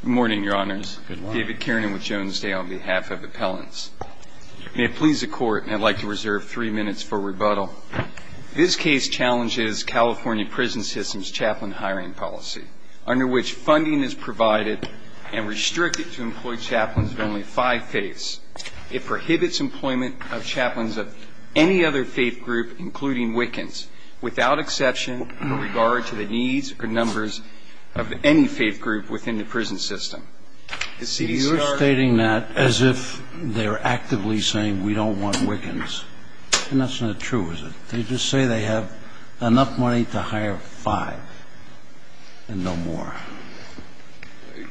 Good morning, your honors. David Kiernan with Jones Day on behalf of appellants. May it please the court, and I'd like to reserve three minutes for rebuttal. This case challenges California prison system's chaplain hiring policy, under which funding is provided and restricted to employ chaplains of only five faiths. It prohibits employment of chaplains of any other faith group, including Wiccans, without exception in regard to the needs or prison system. Is C.D. Stark? You're stating that as if they're actively saying we don't want Wiccans. And that's not true, is it? They just say they have enough money to hire five and no more.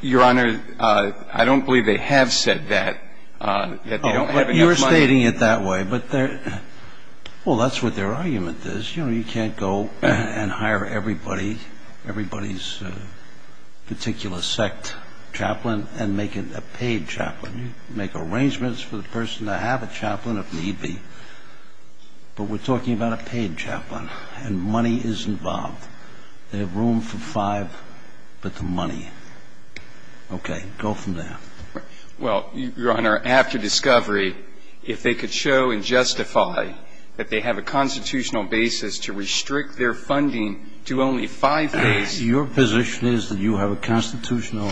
Your honor, I don't believe they have said that, that they don't have enough money. You're stating it that way, but they're – well, that's what their particular sect chaplain and make it a paid chaplain. Make arrangements for the person to have a chaplain, if need be. But we're talking about a paid chaplain, and money is involved. They have room for five, but the money. Okay. Go from there. Well, your honor, after discovery, if they could show and justify that they have a constitutional basis to restrict their funding to only five faiths – Your position is that you have a constitutional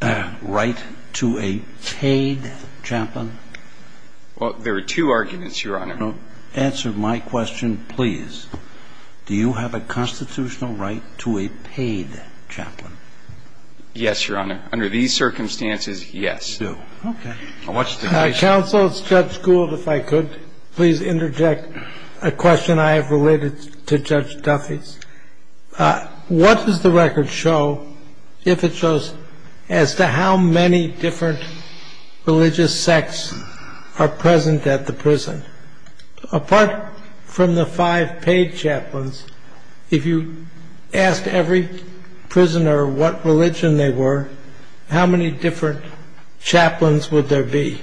right to a paid chaplain? Well, there are two arguments, your honor. Answer my question, please. Do you have a constitutional right to a paid chaplain? Yes, your honor. Under these circumstances, yes. Do. Okay. Counsel, it's judge Gould, if I could please interject a question I have related to Judge Duffy's. What does the record show, if it shows, as to how many different religious sects are present at the prison? Apart from the five paid chaplains, if you asked every prisoner what religion they were, how many different chaplains would there be?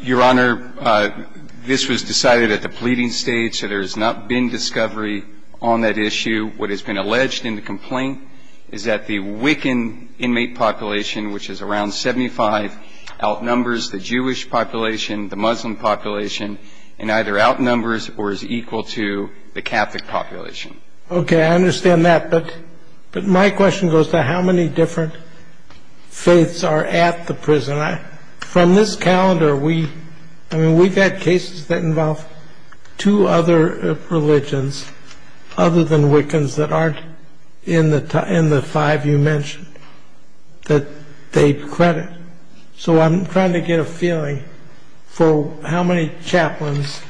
Your honor, this was decided at the pleading stage, so there has not been discovery on that issue. What has been alleged in the complaint is that the Wiccan inmate population, which is around 75 outnumbers the Jewish population, the Muslim population, and either outnumbers or is equal to the Catholic population. Okay, I understand that. But my question goes to how many different faiths are at the prison. From this calendar, we've had cases that involve two other religions other than Wiccans that aren't in the five you mentioned that they credit. So I'm trying to get a feeling for how many chaplains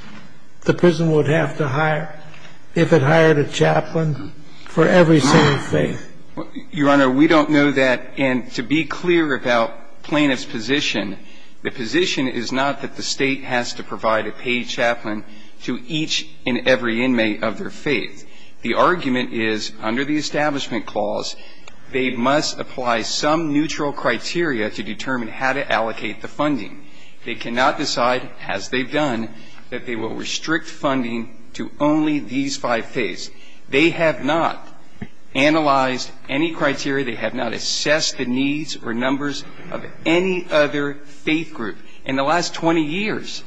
the five faiths are. Your honor, we don't know that. And to be clear about plaintiff's position, the position is not that the State has to provide a paid chaplain to each and every inmate of their faith. The argument is, under the Establishment Clause, they must apply some neutral criteria to determine how to allocate the funding. They cannot decide, as they've done, that they will restrict funding to only these five faiths. They have not analyzed any criteria. They have not assessed the needs or numbers of any other faith group. In the last 20 years,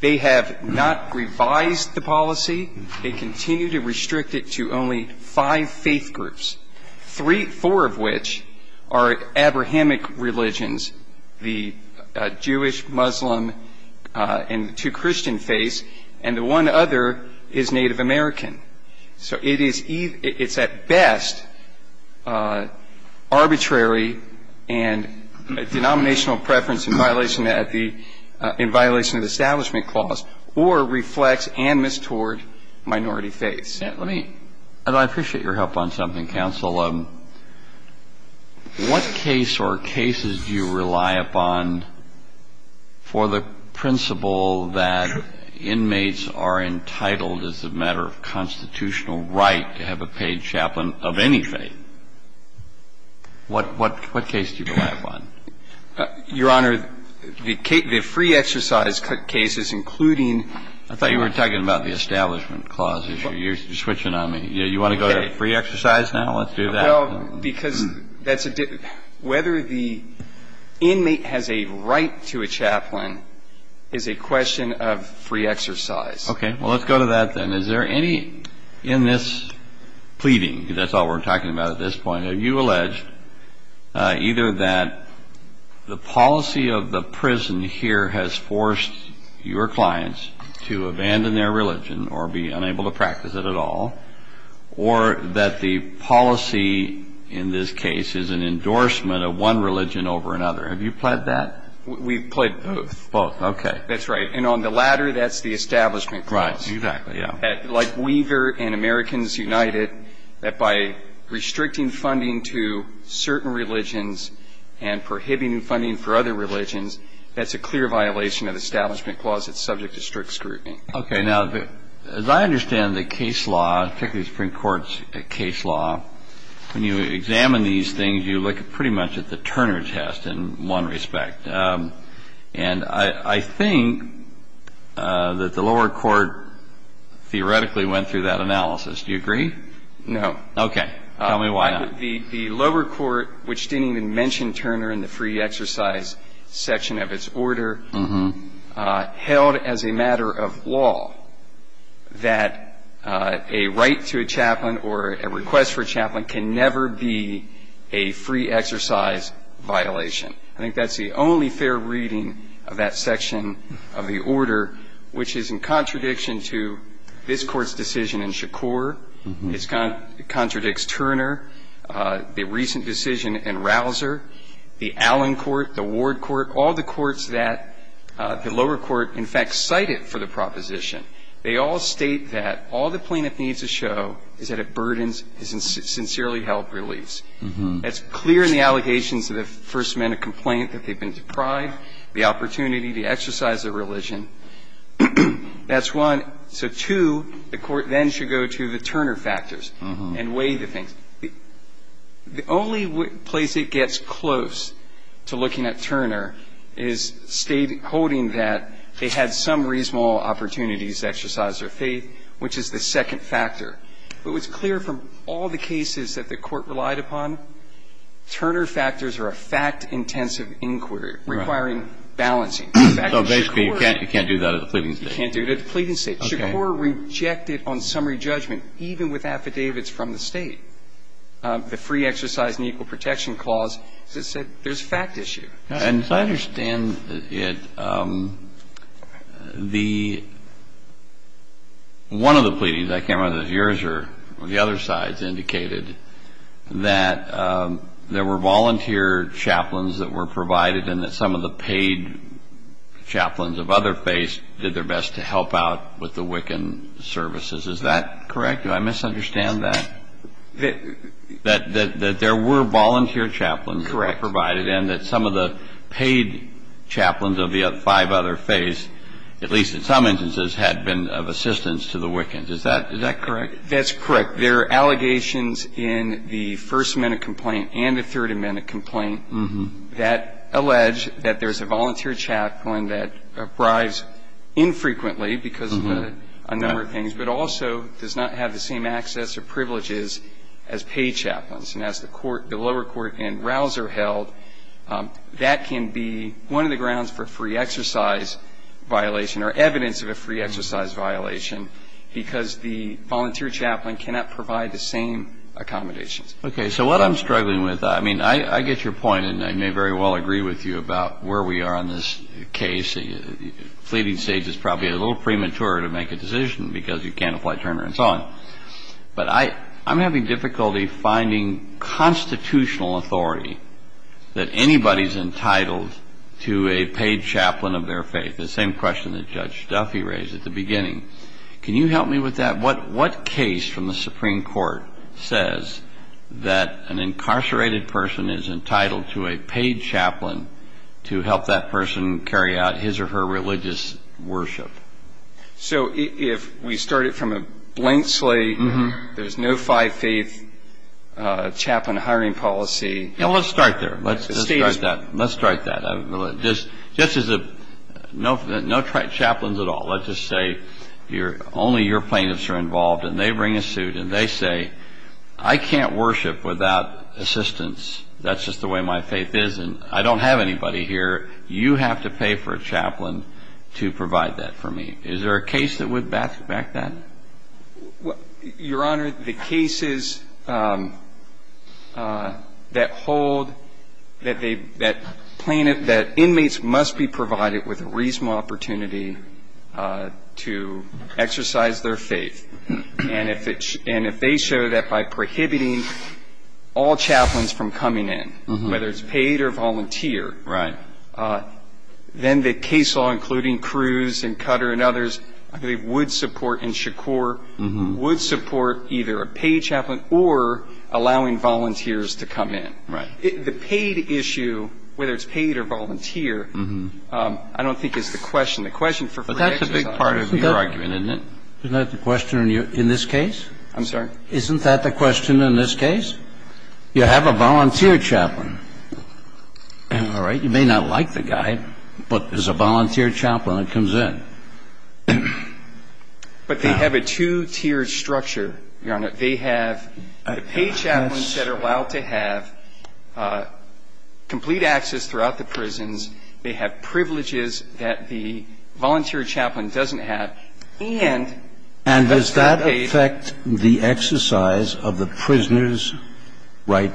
they have not revised the policy. They continue to restrict it to only five faith groups, four of which are Abrahamic religions, the Jewish, Muslim, and Catholic and two Christian faiths, and the one other is Native American. So it is at best arbitrary and a denominational preference in violation of the Establishment Clause or reflects animus toward minority faiths. Let me – and I appreciate your help on something, counsel. What case or cases do you rely upon for the principle that inmates are entitled as a matter of constitutional right to have a paid chaplain of any faith? What – what case do you rely upon? Your Honor, the free exercise cases, including the Establishment Clause. I thought you were talking about the Establishment Clause issue. You're switching on me. Okay. You want to go to free exercise now? Let's do that. Well, because that's a – whether the inmate has a right to a chaplain is a question of free exercise. Okay. Well, let's go to that then. Is there any in this pleading – that's all we're talking about at this point – have you alleged either that the policy of the prison here has forced your clients to abandon their religion or be unable to practice it at all or that the policy in this case is an endorsement of one religion over another? Have you pled that? We've pled both. Both. Okay. That's right. And on the latter, that's the Establishment Clause. Right. Exactly. Yeah. Like Weaver and Americans United, that by restricting funding to certain religions and prohibiting funding for other religions, that's a clear violation of the Establishment Clause. It's subject to strict scrutiny. Okay. Now, as I understand the case law, particularly the Supreme Court's case law, when you examine these things, you look pretty much at the Turner test in one respect. And I think that the lower court theoretically went through that analysis. Do you agree? No. Okay. Tell me why not. The lower court, which didn't even mention Turner in the free exercise section of its law, that a right to a chaplain or a request for a chaplain can never be a free exercise violation. I think that's the only fair reading of that section of the order, which is in contradiction to this Court's decision in Shakur. It contradicts Turner, the recent decision in Rausser, the Allen Court, the Ward Court, all the courts that the lower court, in fact, cited for the proposition, they all state that all the plaintiff needs to show is that it burdens his sincerely held beliefs. That's clear in the allegations of the First Amendment complaint that they've been deprived the opportunity to exercise their religion. That's one. So, two, the court then should go to the Turner factors and weigh the things. The only place it gets close to looking at Turner is state quoting that they had some reasonable opportunities to exercise their faith, which is the second factor. But what's clear from all the cases that the Court relied upon, Turner factors are a fact-intensive inquiry requiring balancing. So, basically, you can't do that at the pleading stage. You can't do it at the pleading stage. Okay. Shakur rejected on summary judgment, even with affidavits from the State, the free exercise and equal protection clause, that said there's a fact issue. And as I understand it, the one of the pleadings, I can't remember if it was yours or the other side's, indicated that there were volunteer chaplains that were provided and that some of the paid chaplains of other faiths did their best to help out with the Wiccan services. Is that correct? Do I misunderstand that? That there were volunteer chaplains that were provided and that some of the paid chaplains of the five other faiths, at least in some instances, had been of assistance to the Wiccans. Is that correct? That's correct. There are allegations in the First Amendment complaint and the Third Amendment complaint that allege that there's a volunteer chaplain that arrives infrequently because of a number of things, but also does not have the same access or privileges as paid chaplains. And as the lower court and rouse are held, that can be one of the grounds for free exercise violation or evidence of a free exercise violation because the volunteer chaplain cannot provide the same accommodations. Okay. So what I'm struggling with, I mean, I get your point and I may very well agree with you about where we are on this case. The fleeting stage is probably a little premature to make a decision because you can't apply Turner and so on, but I'm having difficulty finding constitutional authority that anybody's entitled to a paid chaplain of their faith. The same question that Judge Duffy raised at the beginning. Can you help me with that? What case from the Supreme Court says that an incarcerated person is entitled to a paid chaplain to help that person carry out his or her religious worship? So if we start it from a blank slate, there's no five faith chaplain hiring policy. Yeah, let's start there. Let's start that. Let's start that. Just as a, no chaplains at all. Let's just say only your plaintiffs are involved and they bring a suit and they say, I can't worship without assistance. That's just the way my faith is and I don't have anybody here. You have to pay for a chaplain to provide that for me. Is there a case that would back that? Your Honor, the cases that hold, that they, that plaintiff, that inmates must be provided with a reasonable opportunity to exercise their faith. And if it, and if they show that by prohibiting all chaplains from coming in, whether it's paid or volunteer, then the case law, including Cruz and Cutter and others, I believe would support and Shakur would support either a paid chaplain or allowing volunteers to come in. The paid issue, whether it's paid or volunteer, I don't think is the question. The question for free exercise is the question for free exercise. But that's a big part of your argument, isn't it? Isn't that the question in your, in this case? I'm sorry? Isn't that the question in this case? You have a volunteer chaplain. All right. You may not like the guy, but there's a volunteer chaplain that comes in. But they have a two-tiered structure, Your Honor. They have the paid chaplains that are allowed to have complete access throughout the prisons. They have privileges that the volunteer chaplain doesn't have. And that's not paid. And does that affect the exercise of the prisoner's right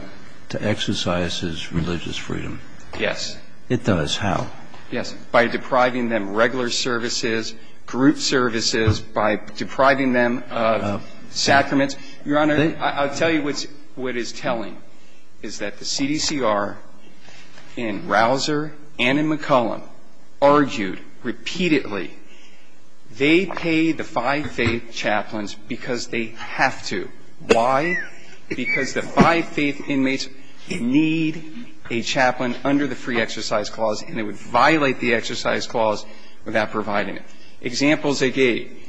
to exercise his religious freedom? Yes. It does. How? Yes. By depriving them regular services, group services, by depriving them of sacraments. Your Honor, I'll tell you what's, what is telling, is that the CDCR in Rausser and in McCollum argued repeatedly, they pay the five-faith chaplains because they have to. Why? Because the five-faith inmates need a chaplain under the free exercise clause, and it would violate the exercise clause without providing it. Examples they gave.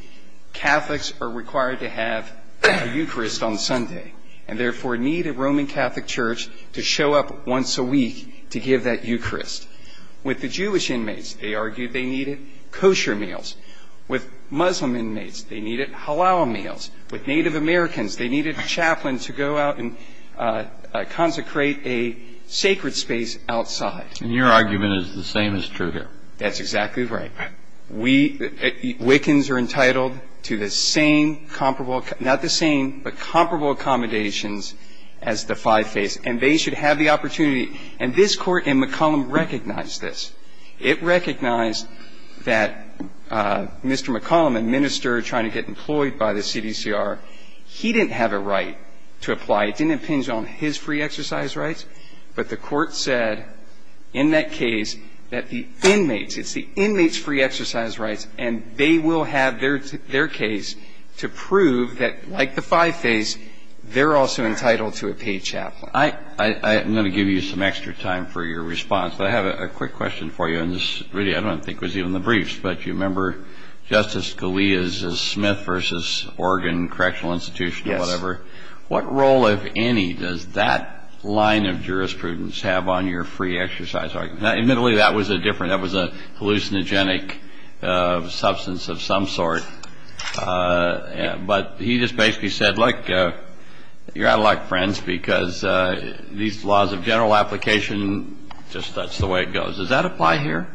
Catholics are required to have a Eucharist on Sunday, and therefore need a Roman a week to give that Eucharist. With the Jewish inmates, they argued they needed kosher meals. With Muslim inmates, they needed halal meals. With Native Americans, they needed a chaplain to go out and consecrate a sacred space outside. And your argument is the same is true here. That's exactly right. We, Wiccans are entitled to the same comparable, not the same, but comparable accommodations as the five-faiths. And they should have the opportunity, and this Court in McCollum recognized this. It recognized that Mr. McCollum, a minister trying to get employed by the CDCR, he didn't have a right to apply. It didn't impinge on his free exercise rights, but the Court said in that case that the inmates, it's the inmates' free exercise rights, and they will have their case to prove that like the five-faiths, they're also entitled to a paid chaplain. I'm going to give you some extra time for your response, but I have a quick question for you, and this really I don't think was even the briefs, but you remember Justice Scalia's Smith v. Oregon Correctional Institution or whatever. What role, if any, does that line of jurisprudence have on your free exercise argument? Admittedly, that was a hallucinogenic substance of some sort, but he just said, these laws of general application, just that's the way it goes. Does that apply here?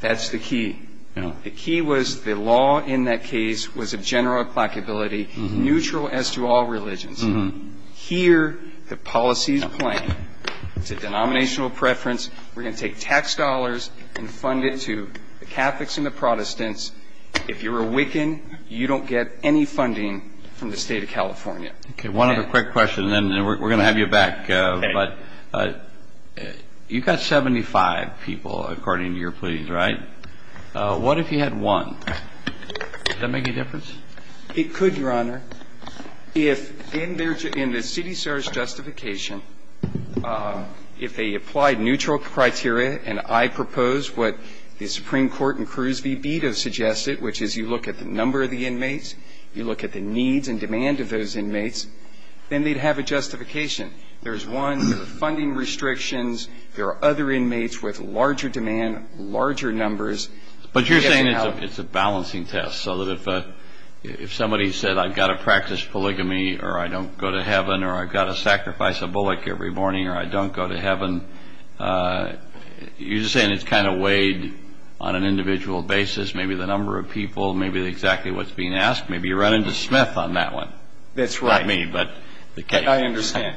That's the key. The key was the law in that case was a general applicability, neutral as to all religions. Here, the policy is plain. It's a denominational preference. We're going to take tax dollars and fund it to the Catholics and the Protestants. If you're a Wiccan, you don't get any funding from the State of California. One other quick question, and then we're going to have you back. You've got 75 people, according to your pleas, right? What if you had one? Would that make a difference? It could, Your Honor. If in the city service justification, if they applied neutral criteria, and I propose what the Supreme Court and Cruz v. Bito suggested, which is you look at the number of the inmates, you look at the needs and demand of those inmates, then they'd have a justification. There's one, there are funding restrictions, there are other inmates with larger demand, larger numbers. But you're saying it's a balancing test, so that if somebody said, I've got to practice polygamy, or I don't go to heaven, or I've got to sacrifice a bullet every morning, or I don't go to heaven, you're just saying it's kind of weighed on an individual basis, maybe the number of people, maybe exactly what's being asked, maybe you're running to Smith on that one. That's right. I mean, but the case. I understand.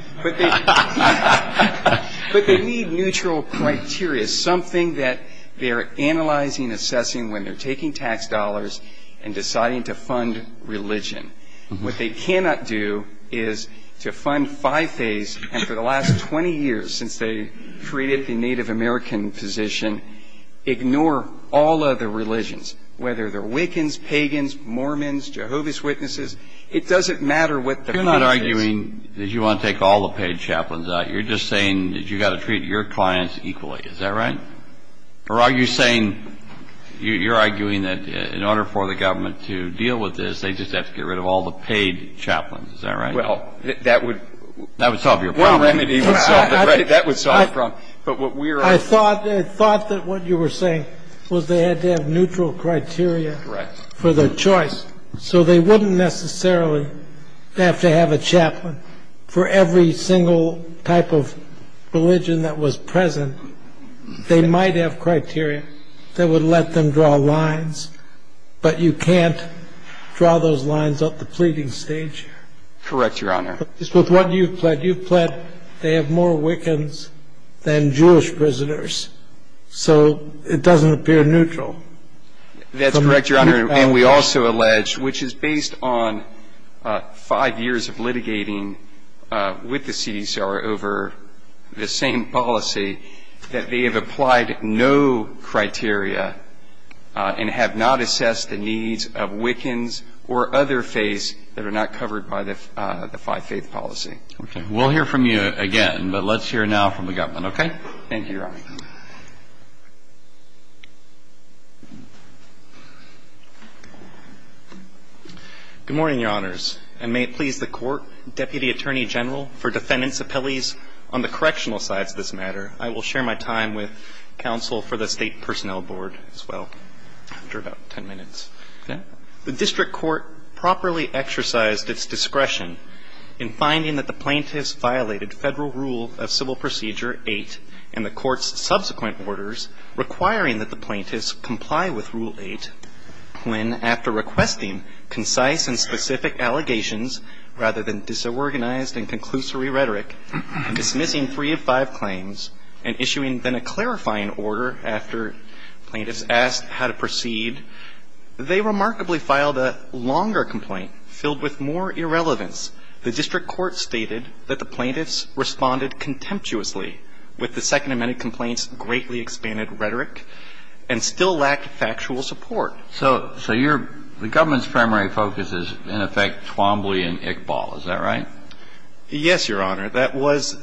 But they need neutral criteria, something that they're analyzing, assessing when they're taking tax dollars and deciding to fund religion. What they cannot do is to fund five days, and for the last 20 years since they created the Native American position, ignore all other religions, whether they're Wiccans, Pagans, Mormons, Jehovah's Witnesses. It doesn't matter what the faith is. You're not arguing that you want to take all the paid chaplains out. You're just saying that you've got to treat your clients equally, is that right? Or are you saying, you're arguing that in order for the government to deal with this, they just have to get rid of all the paid chaplains, is that right? Well, that would... That would solve your problem. Well, remedy. That would solve the problem. I thought that what you were saying was they had to have neutral criteria for their choice, so they wouldn't necessarily have to have a chaplain for every single type of religion that was present. They might have criteria that would let them draw lines, but you can't draw those lines up the pleading stage here. Correct, Your Honor. But just with what you've pled, you've pled they have more Wiccans than Jewish prisoners, so it doesn't appear neutral. That's correct, Your Honor. And we also allege, which is based on five years of litigating with the CDCR over the same policy, that they have applied no criteria and have not assessed the needs of Wiccans or other faiths that are not covered by the five-faith policy. Okay. We'll hear from you again, but let's hear now from the government, okay? Thank you, Your Honor. Good morning, Your Honors. And may it please the Court, Deputy Attorney General, for defendants' appellees on the correctional sides of this matter. I will share my time with counsel for the State Personnel Board as well, after about 10 minutes. Okay. The district court properly exercised its discretion in finding that the plaintiffs violated Federal Rule of Civil Procedure 8 and the court's subsequent orders, requiring that the plaintiffs comply with Rule 8 when, after requesting concise and specific allegations rather than disorganized and conclusory rhetoric, and dismissing three of five claims, and issuing then a clarifying order after plaintiffs asked how to proceed, they remarkably filed a longer complaint filled with more irrelevance. The district court stated that the plaintiffs responded contemptuously with the second amended complaint's greatly expanded rhetoric and still lacked factual support. So the government's primary focus is, in effect, Twombly and Iqbal, is that right? Yes, Your Honor. That was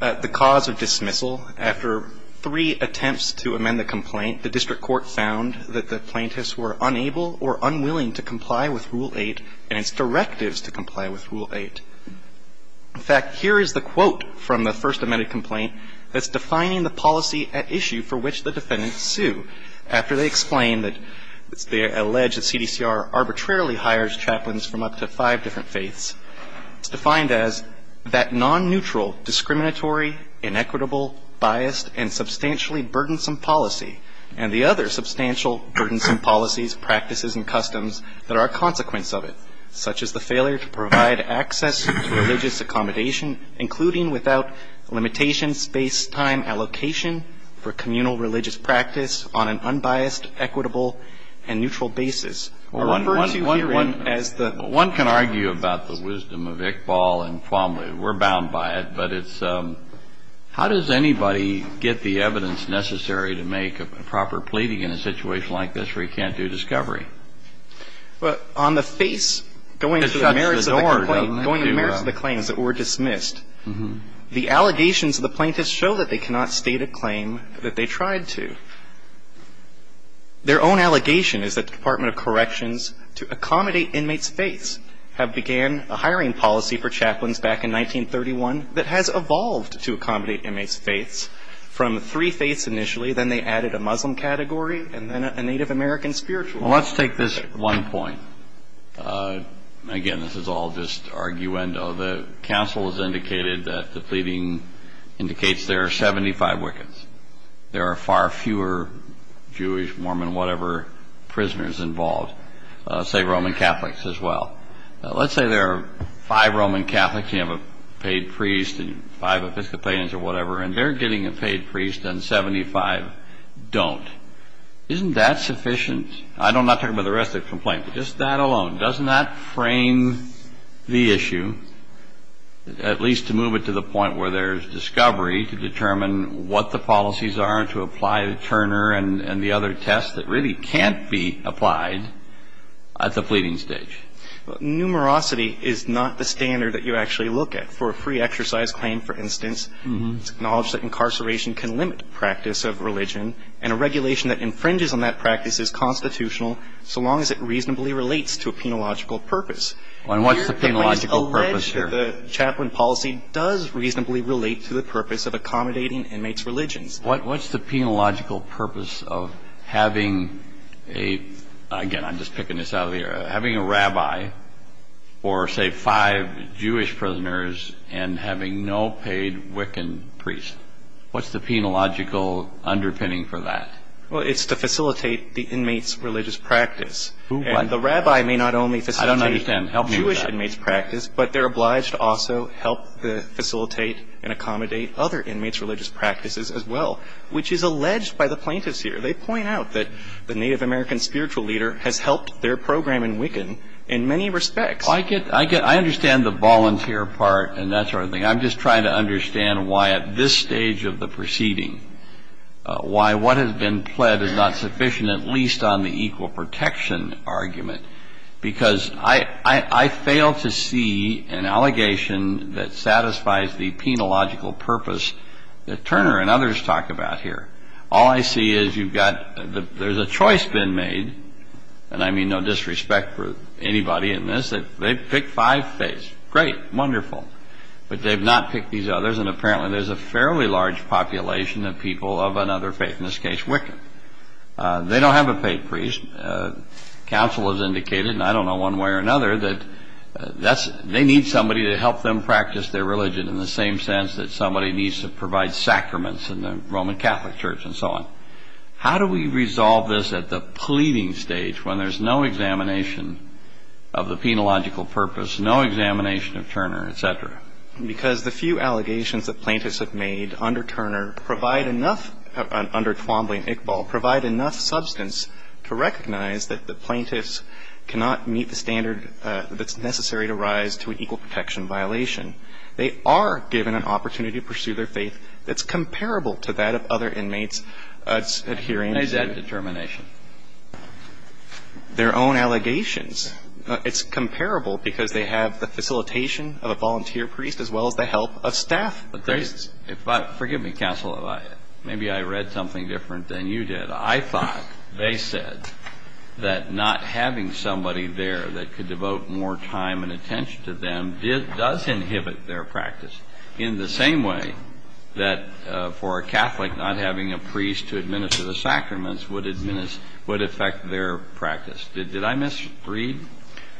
the cause of dismissal. After three attempts to amend the complaint, the district court found that the plaintiffs were unable or unwilling to comply with Rule 8 and its directives to comply with Rule 8. In fact, here is the quote from the first amended complaint that's defining the policy at issue for which the defendants sue. After they explain that they allege that CDCR arbitrarily hires chaplains from up to five different faiths, it's defined as that non-neutral, discriminatory, inequitable, biased, and substantially burdensome policy, and the other substantial burdensome policies, practices, and customs that are a consequence of it, such as the failure to provide access to religious accommodation, including without limitation space-time allocation for communal religious practice on an unbiased, equitable, and neutral basis. When you hear it as the ---- Well, one can argue about the wisdom of Iqbal and Twombly. We're bound by it. But it's how does anybody get the evidence necessary to make a proper pleading in a situation like this where you can't do discovery? Well, on the face going to the merits of the complaint, going to the merits of the claim, is that we're dismissed. The allegations of the plaintiffs show that they cannot state a claim that they tried to. Their own allegation is that the Department of Corrections, to accommodate inmates' faiths, have began a hiring policy for chaplains back in 1931 that has evolved to accommodate inmates' faiths, from three faiths initially, then they added a Muslim category, and then a Native American spiritual category. Well, let's take this one point. Again, this is all just arguendo. The counsel has indicated that the pleading indicates there are 75 wickets. There are far fewer Jewish, Mormon, whatever, prisoners involved, say, Roman Catholics as well. Let's say there are five Roman Catholics, you have a paid priest and five Episcopalians or whatever, and they're getting a paid priest and 75 don't. Isn't that sufficient? I'm not talking about the rest of the complaint, but just that alone. Doesn't that frame the issue, at least to move it to the point where there's policies are to apply the Turner and the other tests that really can't be applied at the pleading stage? Numerosity is not the standard that you actually look at. For a free exercise claim, for instance, it's acknowledged that incarceration can limit practice of religion, and a regulation that infringes on that practice is constitutional so long as it reasonably relates to a penological purpose. And what's the penological purpose here? Here, the plaintiffs allege that the chaplain policy does reasonably relate to the purpose of accommodating inmates' religions. What's the penological purpose of having a, again, I'm just picking this out of the air, having a rabbi for, say, five Jewish prisoners and having no paid Wiccan priest? What's the penological underpinning for that? Well, it's to facilitate the inmates' religious practice. The rabbi may not only facilitate Jewish inmates' practice, but they're obliged to also help facilitate and accommodate other inmates' religious practices as well, which is alleged by the plaintiffs here. They point out that the Native American spiritual leader has helped their program in Wiccan in many respects. Well, I get, I understand the volunteer part and that sort of thing. I'm just trying to understand why at this stage of the proceeding, why what has been pled is not sufficient, at least on the equal protection argument, because I fail to see an allegation that satisfies the penological purpose that Turner and others talk about here. All I see is you've got, there's a choice been made, and I mean no disrespect for anybody in this, that they've picked five faiths. Great, wonderful. But they've not picked these others, and apparently there's a fairly large population of people of another faith, in this case, Wiccan. They don't have a paid priest. Counsel has indicated, and I don't know one way or another, that that's, they need somebody to help them practice their religion in the same sense that somebody needs to provide sacraments in the Roman Catholic Church and so on. How do we resolve this at the pleading stage when there's no examination of the penological purpose, no examination of Turner, et cetera? Because the few allegations that plaintiffs have made under Turner provide enough, under recognize that the plaintiffs cannot meet the standard that's necessary to rise to an equal protection violation. They are given an opportunity to pursue their faith that's comparable to that of other inmates adhering to. What is that determination? Their own allegations. It's comparable because they have the facilitation of a volunteer priest as well as the help of staff priests. But there's, if I, forgive me, Counsel, if I, maybe I read something different than you did. I thought they said that not having somebody there that could devote more time and attention to them does inhibit their practice in the same way that for a Catholic not having a priest to administer the sacraments would affect their practice. Did I misread?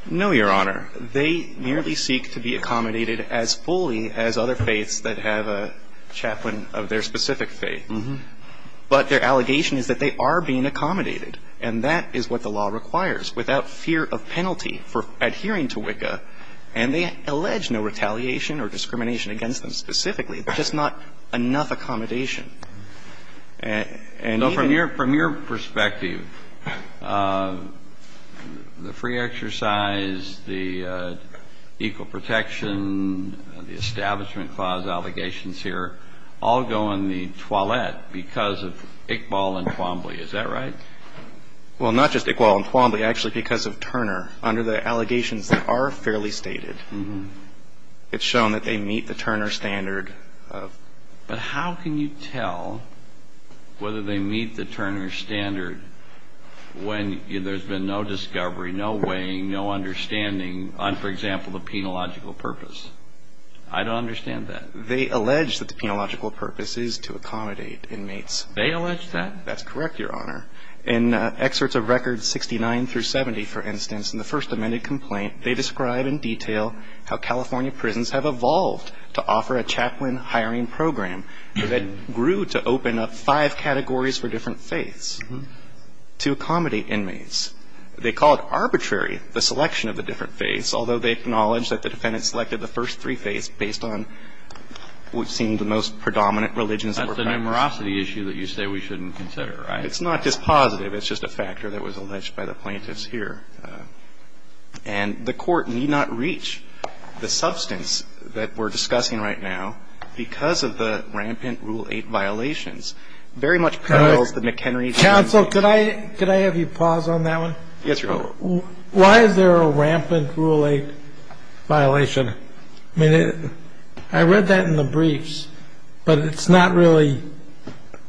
No, Your Honor. They merely seek to be accommodated as fully as other faiths that have a chaplain of their specific faith. But their allegation is that they are being accommodated. And that is what the law requires, without fear of penalty for adhering to WICCA. And they allege no retaliation or discrimination against them specifically, just not enough accommodation. And even the other things that I'm going to say, Justice Breyer, I'm not going to go into that because of Iqbal and Twombly. Is that right? Well, not just Iqbal and Twombly, actually because of Turner. Under the allegations that are fairly stated, it's shown that they meet the Turner standard of... But how can you tell whether they meet the Turner standard when there's been no discovery, no weighing, no understanding on, for example, the penological purpose? I don't understand that. They allege that the penological purpose is to accommodate inmates. They allege that? That's correct, Your Honor. In excerpts of records 69 through 70, for instance, in the first amended complaint, they describe in detail how California prisons have evolved to offer a chaplain hiring program that grew to open up five categories for different faiths to accommodate inmates. They call it arbitrary, the selection of the different faiths, although they acknowledge that the defendant selected the first three faiths based on what seemed the most predominant religions. That's a numerosity issue that you say we shouldn't consider, right? It's not dispositive. It's just a factor that was alleged by the plaintiffs here. And the Court need not reach the substance that we're discussing right now because of the rampant Rule 8 violations. Very much parallels the McHenry... Counsel, could I have you pause on that one? Yes, Your Honor. Why is there a rampant Rule 8 violation? I read that in the briefs, but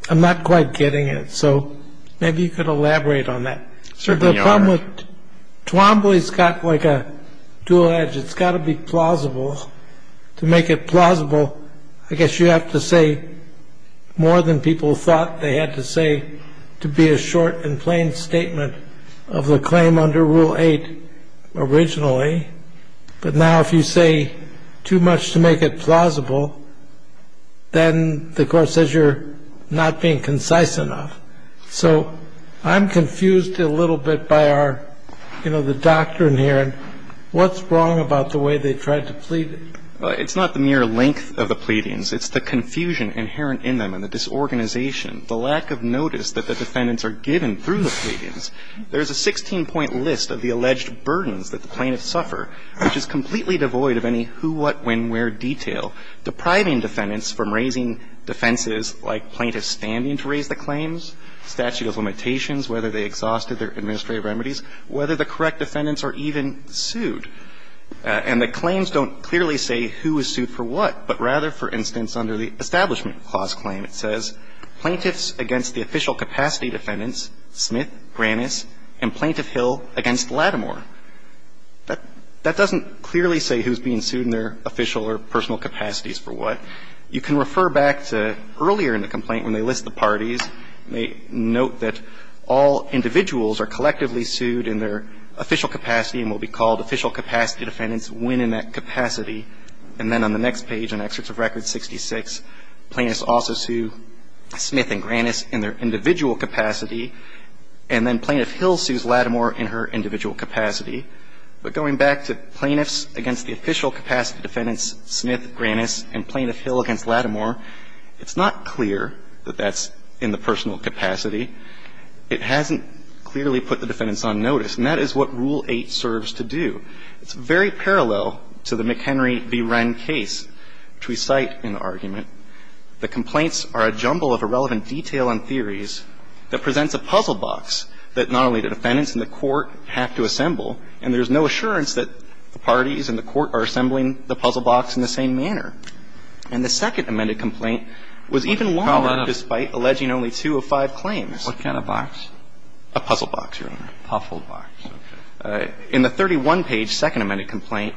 I'm not quite getting it. So maybe you could elaborate on that. Certainly, Your Honor. Twombly's got like a dual edge. It's got to be plausible. To make it plausible, I guess you have to say more than people thought they had to say to be a short and plain statement of the claim under Rule 8 originally. But now if you say too much to make it plausible, then the Court says you're not being concise enough. So I'm confused a little bit by the doctrine here. What's wrong about the way they tried to plead it? It's not the mere length of the pleadings. It's the confusion inherent in them and the disorganization, the lack of notice that the defendants are given through the pleadings. There's a 16-point list of the alleged burdens that the plaintiffs suffer, which is completely devoid of any who, what, when, where detail, depriving defendants from raising defenses like plaintiffs standing to raise the claims, statute of limitations, whether they exhausted their administrative remedies, whether the correct defendants are even sued. And the claims don't clearly say who is sued for what, but rather, for instance, under the Establishment Clause claim, it says, plaintiffs against the official capacity defendants, Smith, Grannis, and Plaintiff Hill against Lattimore. That doesn't clearly say who's being sued in their official or personal capacities for what. You can refer back to earlier in the complaint when they list the parties, they note that all individuals are collectively sued in their official capacity and will be called official capacity defendants when in that capacity. And then on the next page in Excerpts of Record 66, plaintiffs also sue Smith and Grannis in their individual capacity, and then Plaintiff Hill sues Lattimore in her individual capacity. But going back to plaintiffs against the official capacity defendants, Smith, Grannis, and Plaintiff Hill against Lattimore, it's not clear that that's in the personal capacity. It hasn't clearly put the defendants on notice. And that is what Rule 8 serves to do. It's very parallel to the McHenry v. Wren case, which we cite in the argument. The complaints are a jumble of irrelevant detail and theories that presents a puzzle box that not only the defendants and the court have to assemble, and there is no assurance that the parties and the court are assembling the puzzle box in the same manner. And the second amended complaint was even longer, despite alleging only two of five claims. What kind of box? A puzzle box, Your Honor. Puzzle box. In the 31-page second amended complaint,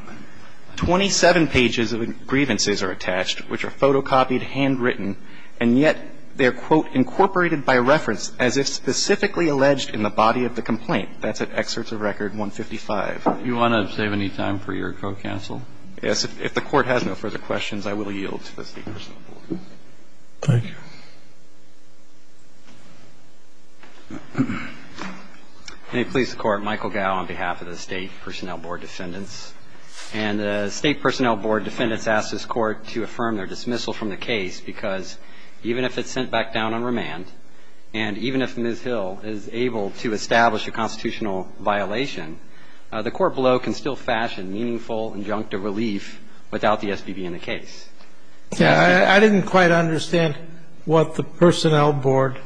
27 pages of grievances are attached, which are photocopied, handwritten, and yet they are, quote, incorporated by reference as if specifically alleged in the body of the complaint. That's at Excerpts of Record 155. Do you want to save any time for your co-counsel? Yes. If the Court has no further questions, I will yield to the speakers. Thank you. May it please the Court, Michael Gow on behalf of the State Personnel Board defendants. And the State Personnel Board defendants ask this Court to affirm their dismissal from the case, because even if it's sent back down on remand, and even if Ms. Hill is able to establish a constitutional violation, the Court below can still fashion meaningful injunctive relief without the SBB in the case. I didn't quite understand what the Personnel Board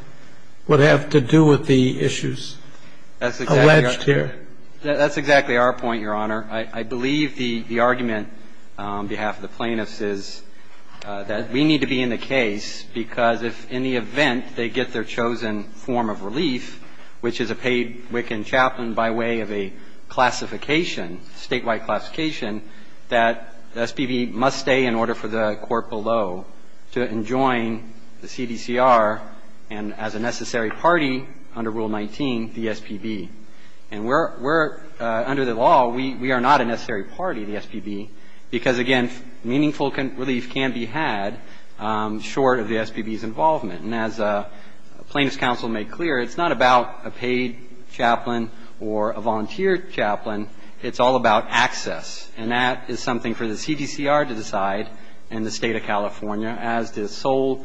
would have to do with the issues alleged here. That's exactly our point, Your Honor. I believe the argument on behalf of the plaintiffs is that we need to be in the case, because if in the event they get their chosen form of relief, which is a paid WIC and chaplain by way of a classification, statewide classification, that the SBB must stay in order for the court below to enjoin the CDCR and, as a necessary party under Rule 19, the SBB. And we're under the law, we are not a necessary party, the SBB, because, again, meaningful relief can be had short of the SBB's involvement. And as Plaintiffs' Counsel made clear, it's not about a paid chaplain or a volunteer chaplain. It's all about access. And that is something for the CDCR to decide and the State of California as the sole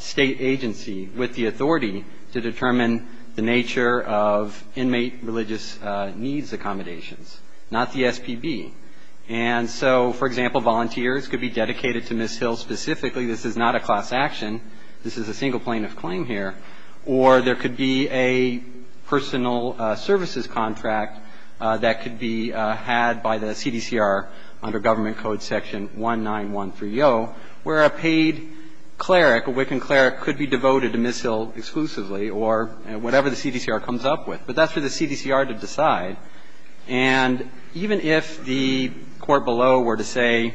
state agency with the authority to determine the nature of inmate religious needs accommodations, not the SBB. And so, for example, volunteers could be dedicated to Ms. Hill specifically. This is not a class action. This is a single plaintiff claim here. Or there could be a personal services contract that could be had by the CDCR under Government Code Section 19130, where a paid cleric, a WIC and cleric, could be devoted to Ms. Hill exclusively or whatever the CDCR comes up with. But that's for the CDCR to decide. And even if the court below were to say,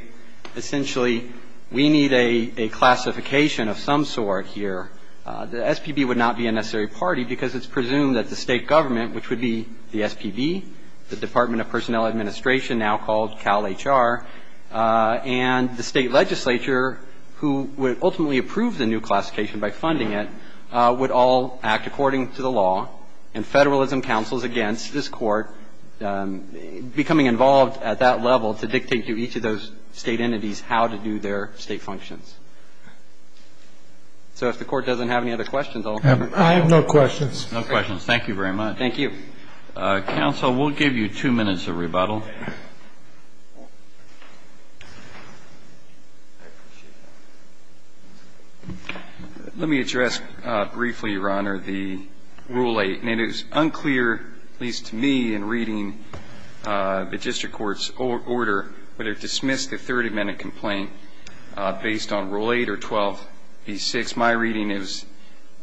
essentially, we need a classification of some sort here, the SBB would not be a necessary party because it's presumed that the state government, which would be the SBB, the Department of Personnel Administration, now called CalHR, and the state legislature, who would ultimately approve the new classification by funding it, would all act according to the law. And Federalism counsels against this court becoming involved at that level to dictate to each of those state entities how to do their state functions. So if the court doesn't have any other questions, I'll have them. I have no questions. No questions. Thank you very much. Thank you. Counsel, we'll give you two minutes of rebuttal. Let me address briefly, Your Honor, the Rule 8. And it is unclear, at least to me in reading the district court's order, whether to dismiss the Third Amendment complaint based on Rule 8 or 12B6. My reading is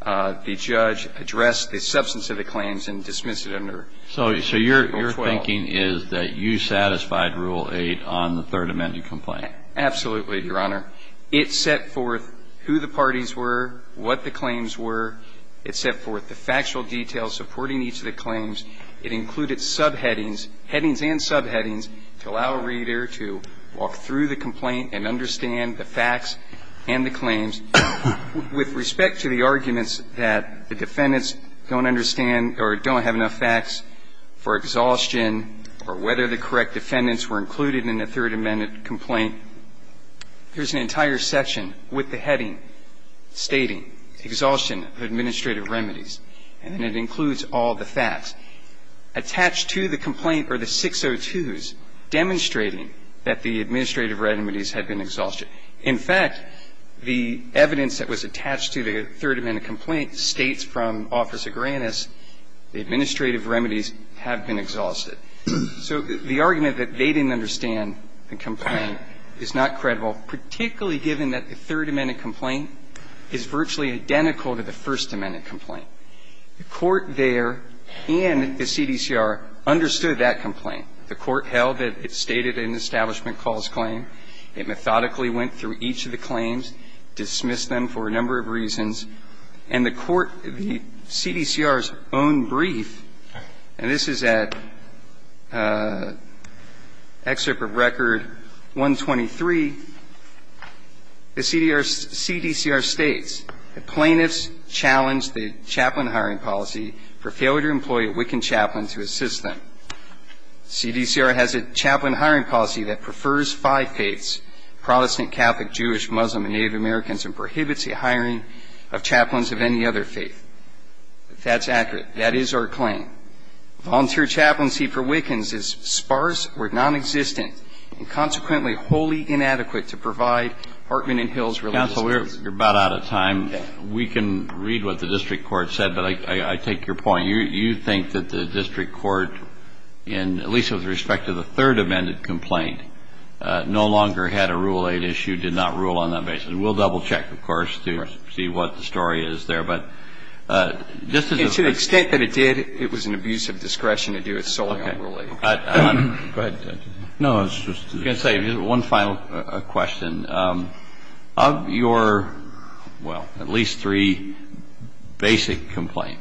the judge addressed the substance of the claims and dismissed it under Rule 12. So your thinking is that you satisfied Rule 8 on the Third Amendment complaint? Absolutely, Your Honor. It set forth who the parties were, what the claims were. It set forth the factual details supporting each of the claims. It included subheadings, headings and subheadings, to allow a reader to walk through the complaint and understand the facts and the claims. With respect to the arguments that the defendants don't understand or don't have enough facts for exhaustion or whether the correct defendants were included in the Third Amendment complaint, there's an entire section with the heading stating exhaustion of administrative remedies. And it includes all the facts attached to the complaint or the 602s demonstrating that the administrative remedies had been exhausted. In fact, the evidence that was attached to the Third Amendment complaint states from Office of Grants the administrative remedies have been exhausted. So the argument that they didn't understand the complaint is not credible, particularly given that the Third Amendment complaint is virtually identical to the First Amendment complaint. The court there and the CDCR understood that complaint. The court held that it stated an establishment cause claim. It methodically went through each of the claims, dismissed them for a number of reasons. And the court, the CDCR's own brief, and this is at Excerpt of Record 123, the CDCR states that plaintiffs challenged the chaplain hiring policy for failure to employ a Wiccan chaplain to assist them. CDCR has a chaplain hiring policy that prefers five faiths, Protestant, Catholic, Jewish, Muslim, and Native Americans, and prohibits the hiring of chaplains of any other faith, if that's accurate. That is our claim. Volunteer chaplaincy for Wiccans is sparse or nonexistent and consequently wholly inadequate to provide Hartman and Hill's religious faith. And so we're about out of time. We can read what the district court said, but I take your point. You think that the district court, in at least with respect to the Third Amendment complaint, no longer had a Rule 8 issue, did not rule on that basis. We'll double-check, of course, to see what the story is there. But this is a question. And to the extent that it did, it was an abuse of discretion to do it solely on Rule 8. Okay. Go ahead, Judge. No, I was just going to say, one final question. Of your, well, at least three basic complaints,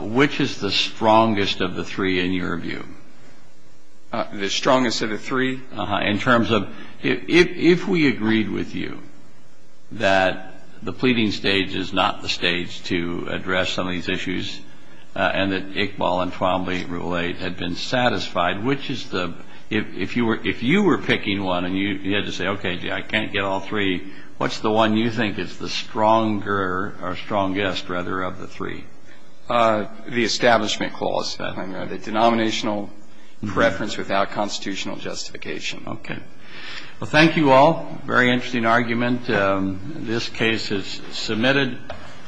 which is the strongest of the three, in your view? The strongest of the three? In terms of, if we agreed with you that the pleading stage is not the stage to address some of these issues, and that Iqbal and Twombly Rule 8 had been satisfied, which is the, if you were picking one and you had to say, okay, I can't get all three, what's the one you think is the stronger or strongest, rather, of the three? The Establishment Clause. The denominational preference without constitutional justification. Okay. Well, thank you all. Very interesting argument. This case is submitted.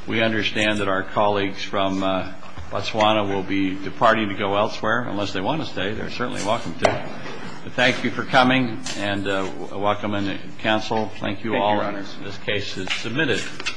We understand that our colleagues from Botswana will be departing to go elsewhere, unless they want to stay, they're certainly welcome to. But thank you for coming, and welcome on the Council. Thank you, Your Honors. This case is submitted.